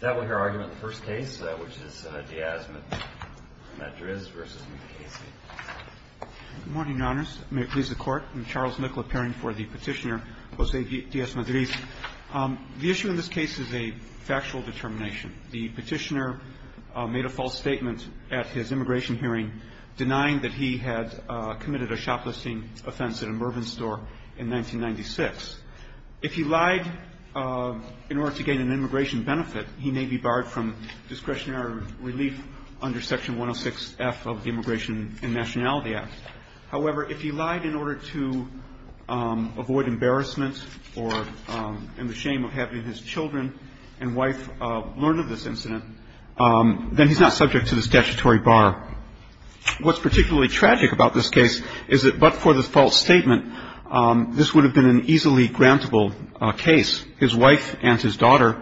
The issue in this case is a factual determination. The petitioner made a false statement at his immigration hearing denying that he had committed a shoplisting offense at a Mervyn store in 1996. If he lied in order to gain an immigration benefit, he would have been charged with fraud. He may be barred from discretionary relief under Section 106F of the Immigration and Nationality Act. However, if he lied in order to avoid embarrassment or in the shame of having his children and wife learn of this incident, then he's not subject to the statutory bar. What's particularly tragic about this case is that but for the false statement, this would have been an easily grantable case. His wife and his daughter,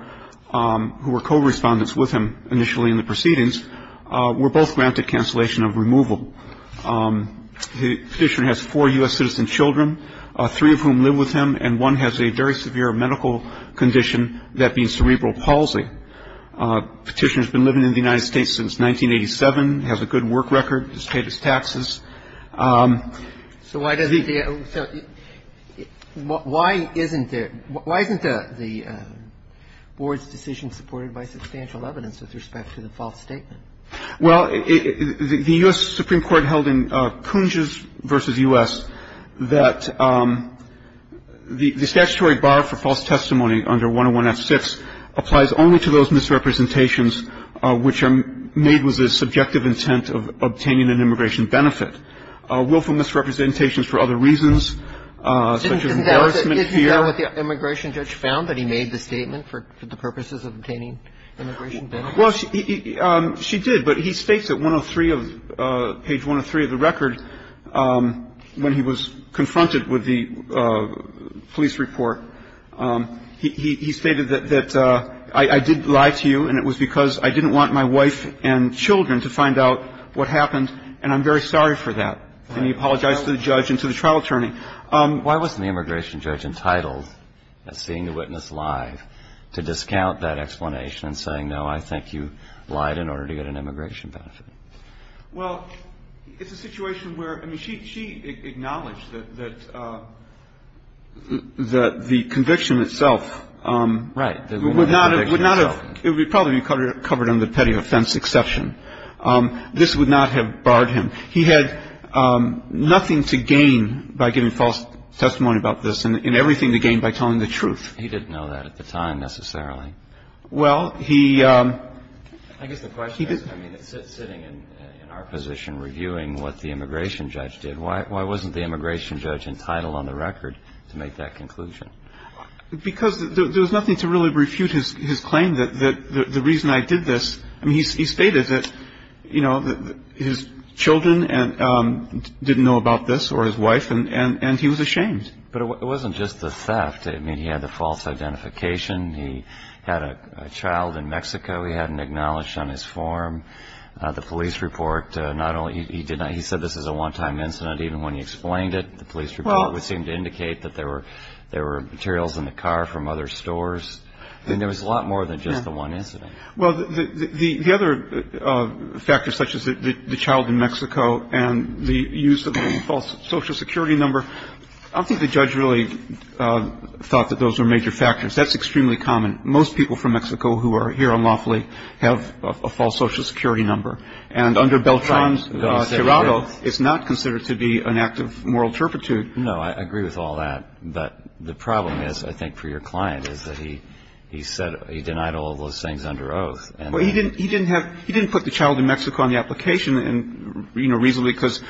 who were co-respondents with him initially in the proceedings, were both granted cancellation of removal. The petitioner has four U.S. citizen children, three of whom live with him, and one has a very severe medical condition, that being cerebral palsy. The petitioner has been living in the United States since 1987, has a good work record, has paid his taxes. So why doesn't the – why isn't the Board's decision supported by substantial evidence with respect to the false statement? Well, the U.S. Supreme Court held in Kunzges v. U.S. that the statutory bar for false testimony under 101F6 applies only to those misrepresentations which are made with the subjective intent of obtaining an immigration benefit. Willful misrepresentations for other reasons, such as embarrassment, fear. Isn't that what the immigration judge found, that he made the statement for the purposes of obtaining immigration benefits? Well, she did, but he states at 103 of – page 103 of the record, when he was confronted with the police report, he stated that I did lie to you, and it was because I didn't want my wife and children to find out what happened, and I'm very sorry for that. And he apologized to the judge and to the trial attorney. Why wasn't the immigration judge entitled at seeing the witness live to discount that explanation and saying, no, I think you lied in order to get an immigration benefit? Well, it's a situation where – I mean, she acknowledged that the conviction itself would not have – Right. It would probably be covered under the petty offense exception. This would not have barred him. He had nothing to gain by giving false testimony about this and everything to gain by telling the truth. He didn't know that at the time, necessarily. Well, he – I guess the question is, I mean, sitting in our position reviewing what the immigration judge did, why wasn't the immigration judge entitled on the record to make that conclusion? Because there was nothing to really refute his claim that the reason I did this – I mean, he stated that, you know, his children didn't know about this or his wife, and he was ashamed. But it wasn't just the theft. I mean, he had the false identification. He had a child in Mexico he hadn't acknowledged on his form. The police report, not only – he said this is a one-time incident. Even when he explained it, the police report would seem to indicate that there were materials in the car from other stores. I mean, there was a lot more than just the one incident. Well, the other factors such as the child in Mexico and the use of a false Social Security number, I don't think the judge really thought that those were major factors. That's extremely common. Most people from Mexico who are here unlawfully have a false Social Security number. And under Beltran's – Right. It's not considered to be an act of moral turpitude. No, I agree with all that. But the problem is, I think, for your client, is that he said – he denied all of those things under oath. Well, he didn't – he didn't have – he didn't put the child in Mexico on the application and, you know, reasonably, because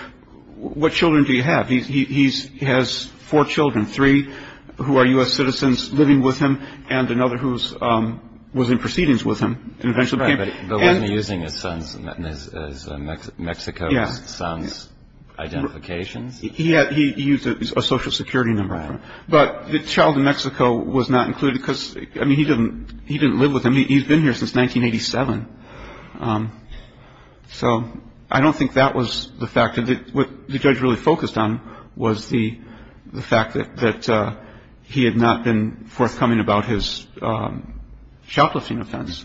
what children do you have? He has four children, three who are U.S. citizens living with him and another who was in proceedings with him. Right. But wasn't he using his son's – Mexico's son's identifications? He had – he used a Social Security number. Right. But the child in Mexico was not included because, I mean, he didn't – he didn't live with him. He's been here since 1987. So I don't think that was the factor. What the judge really focused on was the fact that he had not been forthcoming about his shoplifting offense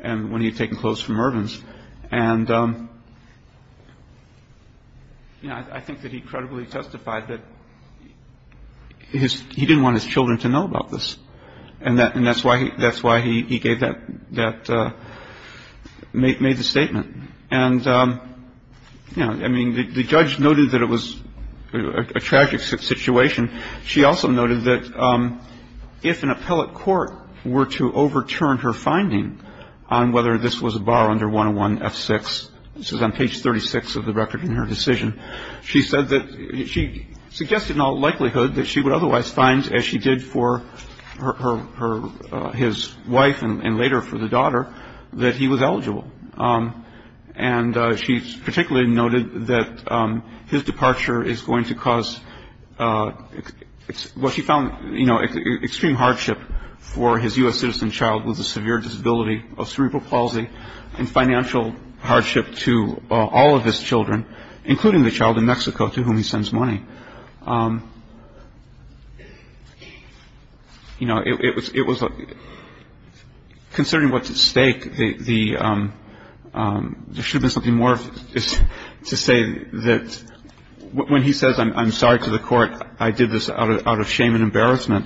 when he had taken clothes from Irvin's. And, you know, I think that he credibly testified that his – he didn't want his children to know about this. And that – and that's why he – that's why he gave that – that – made the statement. And, you know, I mean, the judge noted that it was a tragic situation. And she also noted that if an appellate court were to overturn her finding on whether this was a bar under 101F6, this is on page 36 of the record in her decision, she said that – she suggested in all likelihood that she would otherwise find, as she did for her – his wife and later for the daughter, that he was eligible. And she particularly noted that his departure is going to cause what she found, you know, extreme hardship for his U.S. citizen child with a severe disability of cerebral palsy and financial hardship to all of his children, including the child in Mexico to whom he sends money. And, you know, it was a – considering what's at stake, the – there should have been something more to say that – when he says, I'm sorry to the court, I did this out of shame and embarrassment,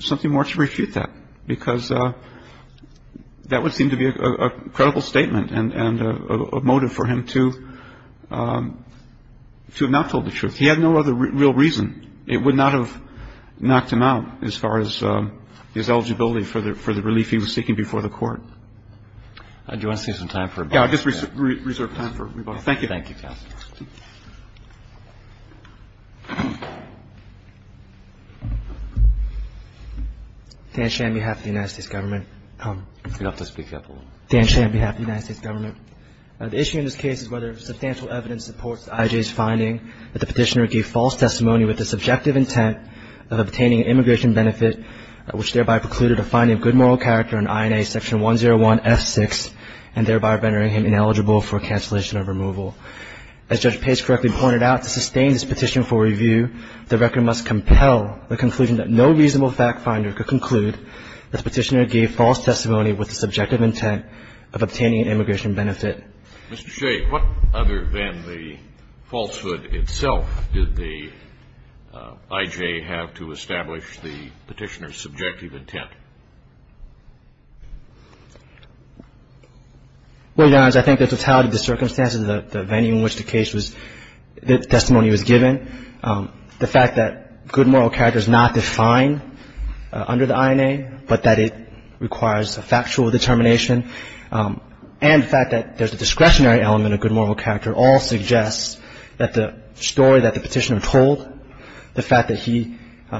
something more to refute that, because that would seem to be a credible statement and a motive for him to have not told the truth. He had no other real reason. It would not have knocked him out as far as his eligibility for the relief he was seeking before the court. Do you want to save some time for rebuttal? Yeah, I'll just reserve time for rebuttal. Thank you, counsel. Thank you. Dan Shan, on behalf of the United States Government. It's enough to speak up a little. Dan Shan, on behalf of the United States Government. The issue in this case is whether substantial evidence supports I.J.'s finding that the petitioner gave false testimony with the subjective intent of obtaining an immigration benefit, which thereby precluded a finding of good moral character on INA Section 101F6 and thereby rendering him ineligible for cancellation of removal. As Judge Pace correctly pointed out, to sustain this petition for review, the record must compel the conclusion that no reasonable fact-finder could conclude that the petitioner gave false testimony with the subjective intent of obtaining an immigration benefit. Mr. Shea, what other than the falsehood itself did the I.J. have to establish the petitioner's subjective intent? Well, Your Honor, I think the totality of the circumstances, the venue in which the case was, the testimony was given, the fact that good moral character is not defined under the INA, but that it requires a factual determination, and the fact that there's a discretionary element of good moral character all suggests that the story that the petitioner told, the fact that he,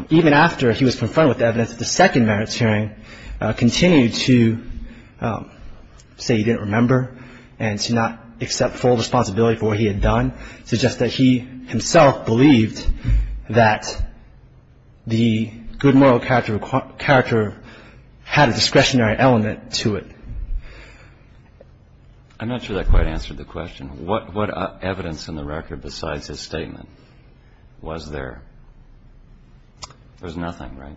even after he was confronted with evidence at the second merits hearing, continued to say he didn't remember and to not accept full responsibility for what he had done, suggests that he himself believed that the good moral character had a discretionary element to it. I'm not sure that quite answered the question. What evidence in the record besides his statement was there? There's nothing, right?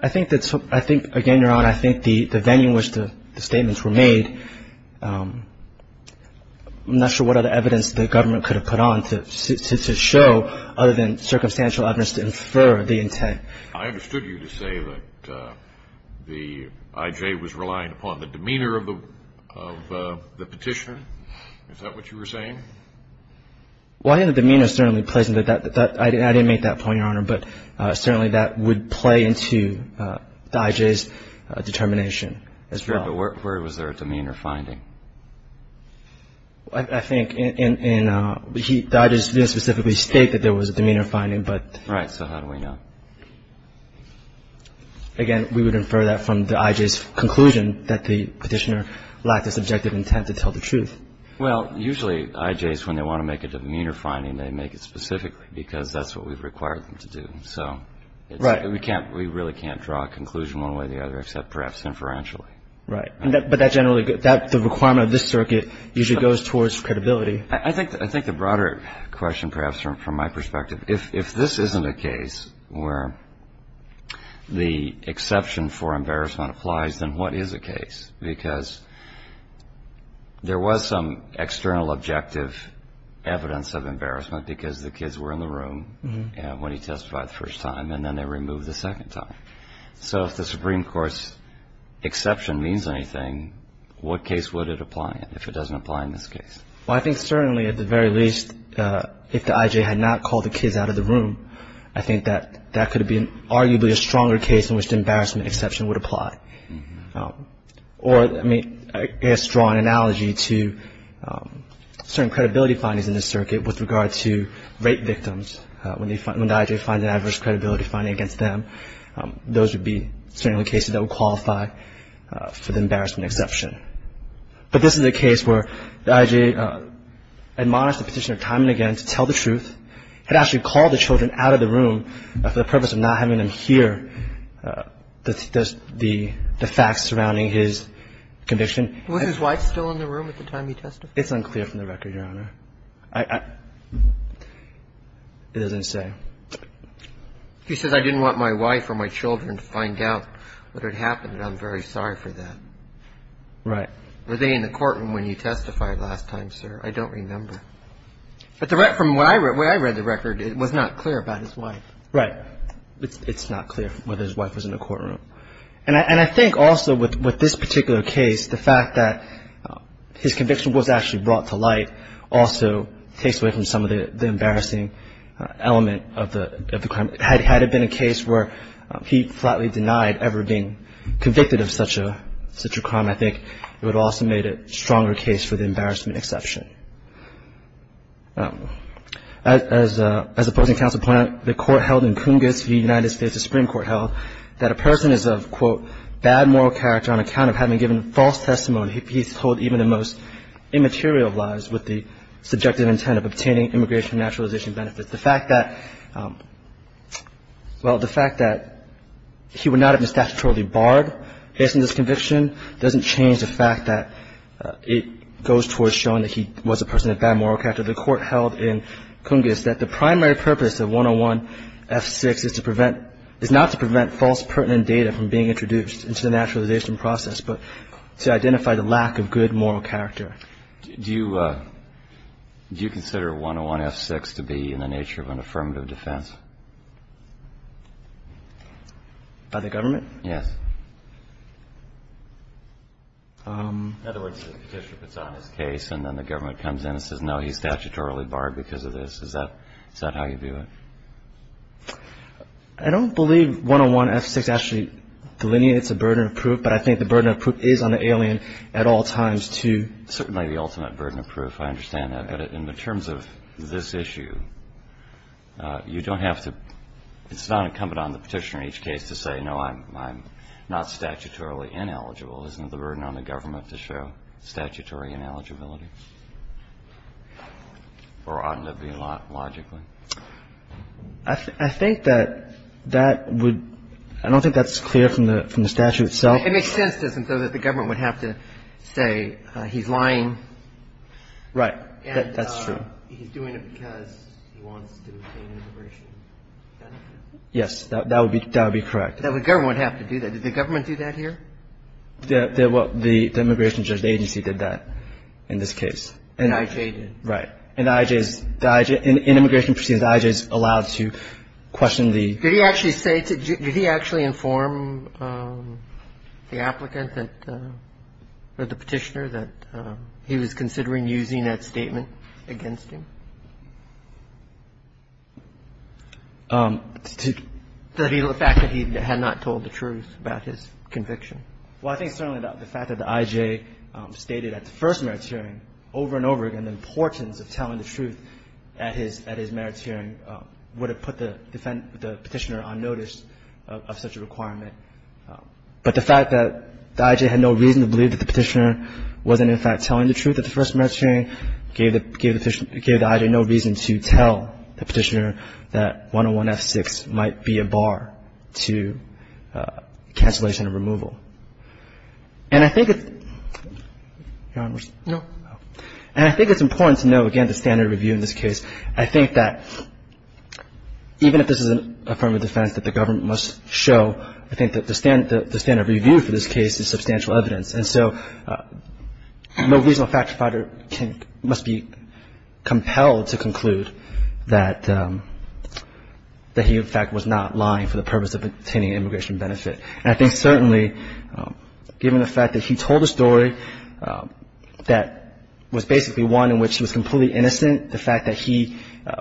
I think, again, Your Honor, I think the venue in which the statements were made, I'm not sure what other evidence the government could have put on to show other than circumstantial evidence to infer the intent. I understood you to say that the IJ was relying upon the demeanor of the petitioner. Is that what you were saying? Well, I think the demeanor certainly plays into that. I didn't make that point, Your Honor, but certainly that would play into the IJ's determination as well. That's right, but where was there a demeanor finding? I think the IJ didn't specifically state that there was a demeanor finding. Right. So how do we know? Again, we would infer that from the IJ's conclusion that the petitioner lacked a subjective intent to tell the truth. Well, usually IJs, when they want to make a demeanor finding, they make it specifically because that's what we've required them to do. So we really can't draw a conclusion one way or the other except perhaps inferentially. Right. But the requirement of this circuit usually goes towards credibility. I think the broader question perhaps from my perspective, if this isn't a case where the exception for embarrassment applies, then what is a case? Because there was some external objective evidence of embarrassment because the kids were in the room when he testified the first time, and then they were removed the second time. So if the Supreme Court's exception means anything, what case would it apply in if it doesn't apply in this case? Well, I think certainly at the very least, if the IJ had not called the kids out of the room, I think that that could have been arguably a stronger case in which the embarrassment exception would apply. Or, I mean, I guess draw an analogy to certain credibility findings in this circuit with regard to rape victims. When the IJ finds an adverse credibility finding against them, those would be certainly cases that would qualify for the embarrassment exception. But this is a case where the IJ admonished the Petitioner time and again to tell the truth, had actually called the children out of the room for the purpose of not having them hear the facts surrounding his conviction. Was his wife still in the room at the time he testified? It's unclear from the record, Your Honor. It doesn't say. He says, I didn't want my wife or my children to find out what had happened, and I'm very sorry for that. Right. Were they in the courtroom when you testified last time, sir? I don't remember. But from where I read the record, it was not clear about his wife. Right. It's not clear whether his wife was in the courtroom. And I think also with this particular case, the fact that his conviction was actually brought to light also takes away from some of the embarrassing element of the crime. Had it been a case where he flatly denied ever being convicted of such a crime, I think it would have also made it a stronger case for the embarrassment exception. As opposing counsel pointed out, the court held in Coongates v. United States, the Supreme Court held that a person is of, quote, bad moral character on account of having given false testimony. He's told even the most immaterial lies with the subjective intent of obtaining immigration naturalization benefits. The fact that, well, the fact that he would not have been statutorily barred based on this conviction doesn't change the fact that it goes towards showing that he was a person of bad moral character. The court held in Coongates that the primary purpose of 101-F6 is to prevent is not to prevent false pertinent data from being introduced into the naturalization process, but to identify the lack of good moral character. Do you consider 101-F6 to be in the nature of an affirmative defense? By the government? Yes. In other words, the petitioner puts on his case and then the government comes in and says, no, he's statutorily barred because of this. Is that how you view it? I don't believe 101-F6 actually delineates a burden of proof, but I think the burden of proof is on the alien at all times to ---- Certainly the ultimate burden of proof. I understand that. But in the terms of this issue, you don't have to ---- it's not incumbent on the petitioner in each case to say, no, I'm not statutorily ineligible. Isn't the burden on the government to show statutory ineligibility? Or oughtn't it to be logically? I think that that would ---- I don't think that's clear from the statute itself. It makes sense, doesn't it, though, that the government would have to say he's lying. Right. That's true. And he's doing it because he wants to obtain an immigration benefit? Yes. That would be correct. The government would have to do that. Did the government do that here? The immigration agency did that in this case. And I.J. did. Right. And I.J. is ---- in immigration proceedings, I.J. is allowed to question the ---- Did he actually say to ---- did he actually inform the applicant that ---- or the petitioner that he was considering using that statement against him? The fact that he had not told the truth about his conviction. Well, I think certainly the fact that the I.J. stated at the first merits hearing over and over again the importance of telling the truth at his merits hearing would have put the petitioner on notice of such a requirement. But the fact that the I.J. had no reason to believe that the petitioner wasn't, in fact, telling the truth at the first merits hearing gave the I.J. no reason to tell the petitioner that 101F6 might be a bar to cancellation of removal. And I think it's important to note, again, the standard review in this case. I think that even if this is an affirmative defense that the government must show, I think that the standard review for this case is substantial evidence. And so no reasonable factor must be compelled to conclude that he, in fact, was not lying for the purpose of obtaining immigration benefit. And I think certainly given the fact that he told a story that was basically one in which he was completely innocent, the fact that he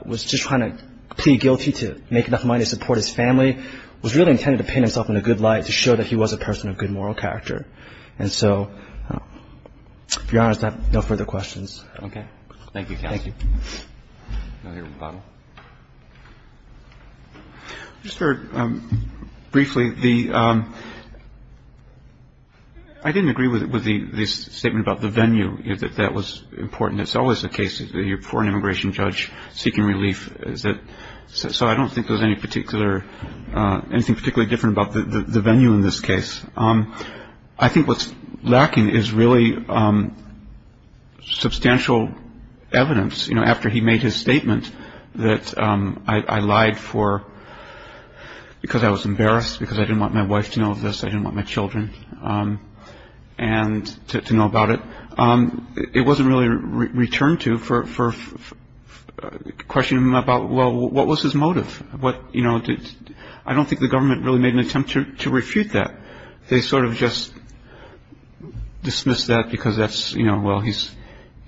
was just trying to plead guilty to make enough money to support his family was really intended to paint himself in a good light to show that he was a person of good moral character. And so, to be honest, I have no further questions. Roberts. Okay. Thank you, counsel. Thank you. Another rebuttal. I just heard briefly the – I didn't agree with the statement about the venue, that that was important. It's always the case that you're before an immigration judge seeking relief. So I don't think there's any particular – anything particularly different about the venue in this case. I think what's lacking is really substantial evidence, you know, after he made his statement that I lied for – because I was embarrassed, because I didn't want my wife to know of this, I didn't want my children to know about it. It wasn't really returned to for questioning him about, well, what was his motive? What – you know, I don't think the government really made an attempt to refute that. They sort of just dismissed that because that's – you know, well, he's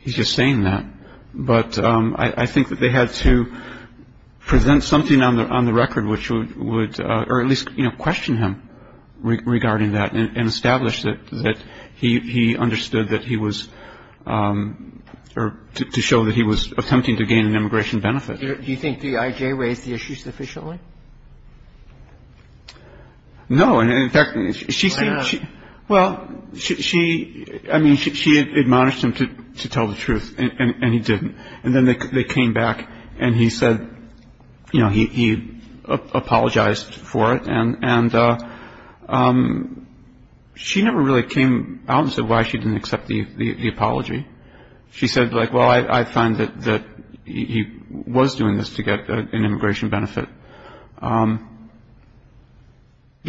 just saying that. But I think that they had to present something on the record which would – I think that they had to present something on the record which would – I think that they had to present something on the record which would sort of question him regarding that and establish that he understood that he was – or to show that he was attempting to gain an immigration benefit. Do you think D.I.J. raised the issue sufficiently? No. Why not? Well, she – I mean, she admonished him to tell the truth, and he didn't. And then they came back, and he said – you know, he apologized for it. And she never really came out and said why she didn't accept the apology. She said, like, well, I find that he was doing this to get an immigration benefit. Do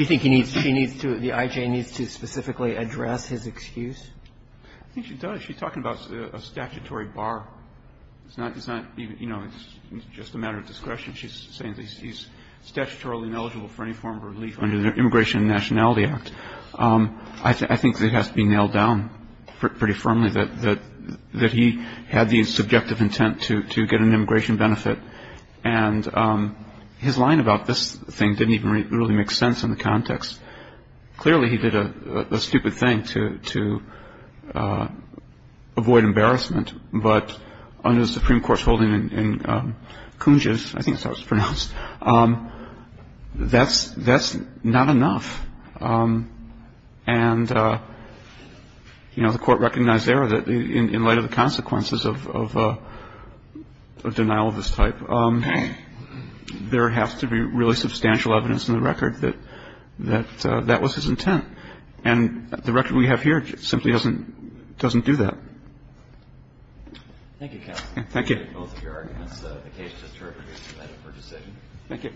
you think he needs – she needs to – D.I.J. needs to specifically address his excuse? I think she does. She's talking about a statutory bar. It's not – you know, it's just a matter of discretion. She's saying that he's statutorily ineligible for any form of relief under the Immigration and Nationality Act. I think it has to be nailed down pretty firmly that he had the subjective intent to get an immigration benefit. And his line about this thing didn't even really make sense in the context. Clearly, he did a stupid thing to avoid embarrassment. But under the Supreme Court's holding in Kunj, I think that's how it's pronounced, that's not enough. And, you know, the Court recognized there that in light of the consequences of denial of this type, there has to be really substantial evidence in the record that that was his intent. And the record we have here simply doesn't do that. Thank you, counsel. Thank you. I appreciate both of your arguments. The case is terminated. Thank you for your decision. Thank you.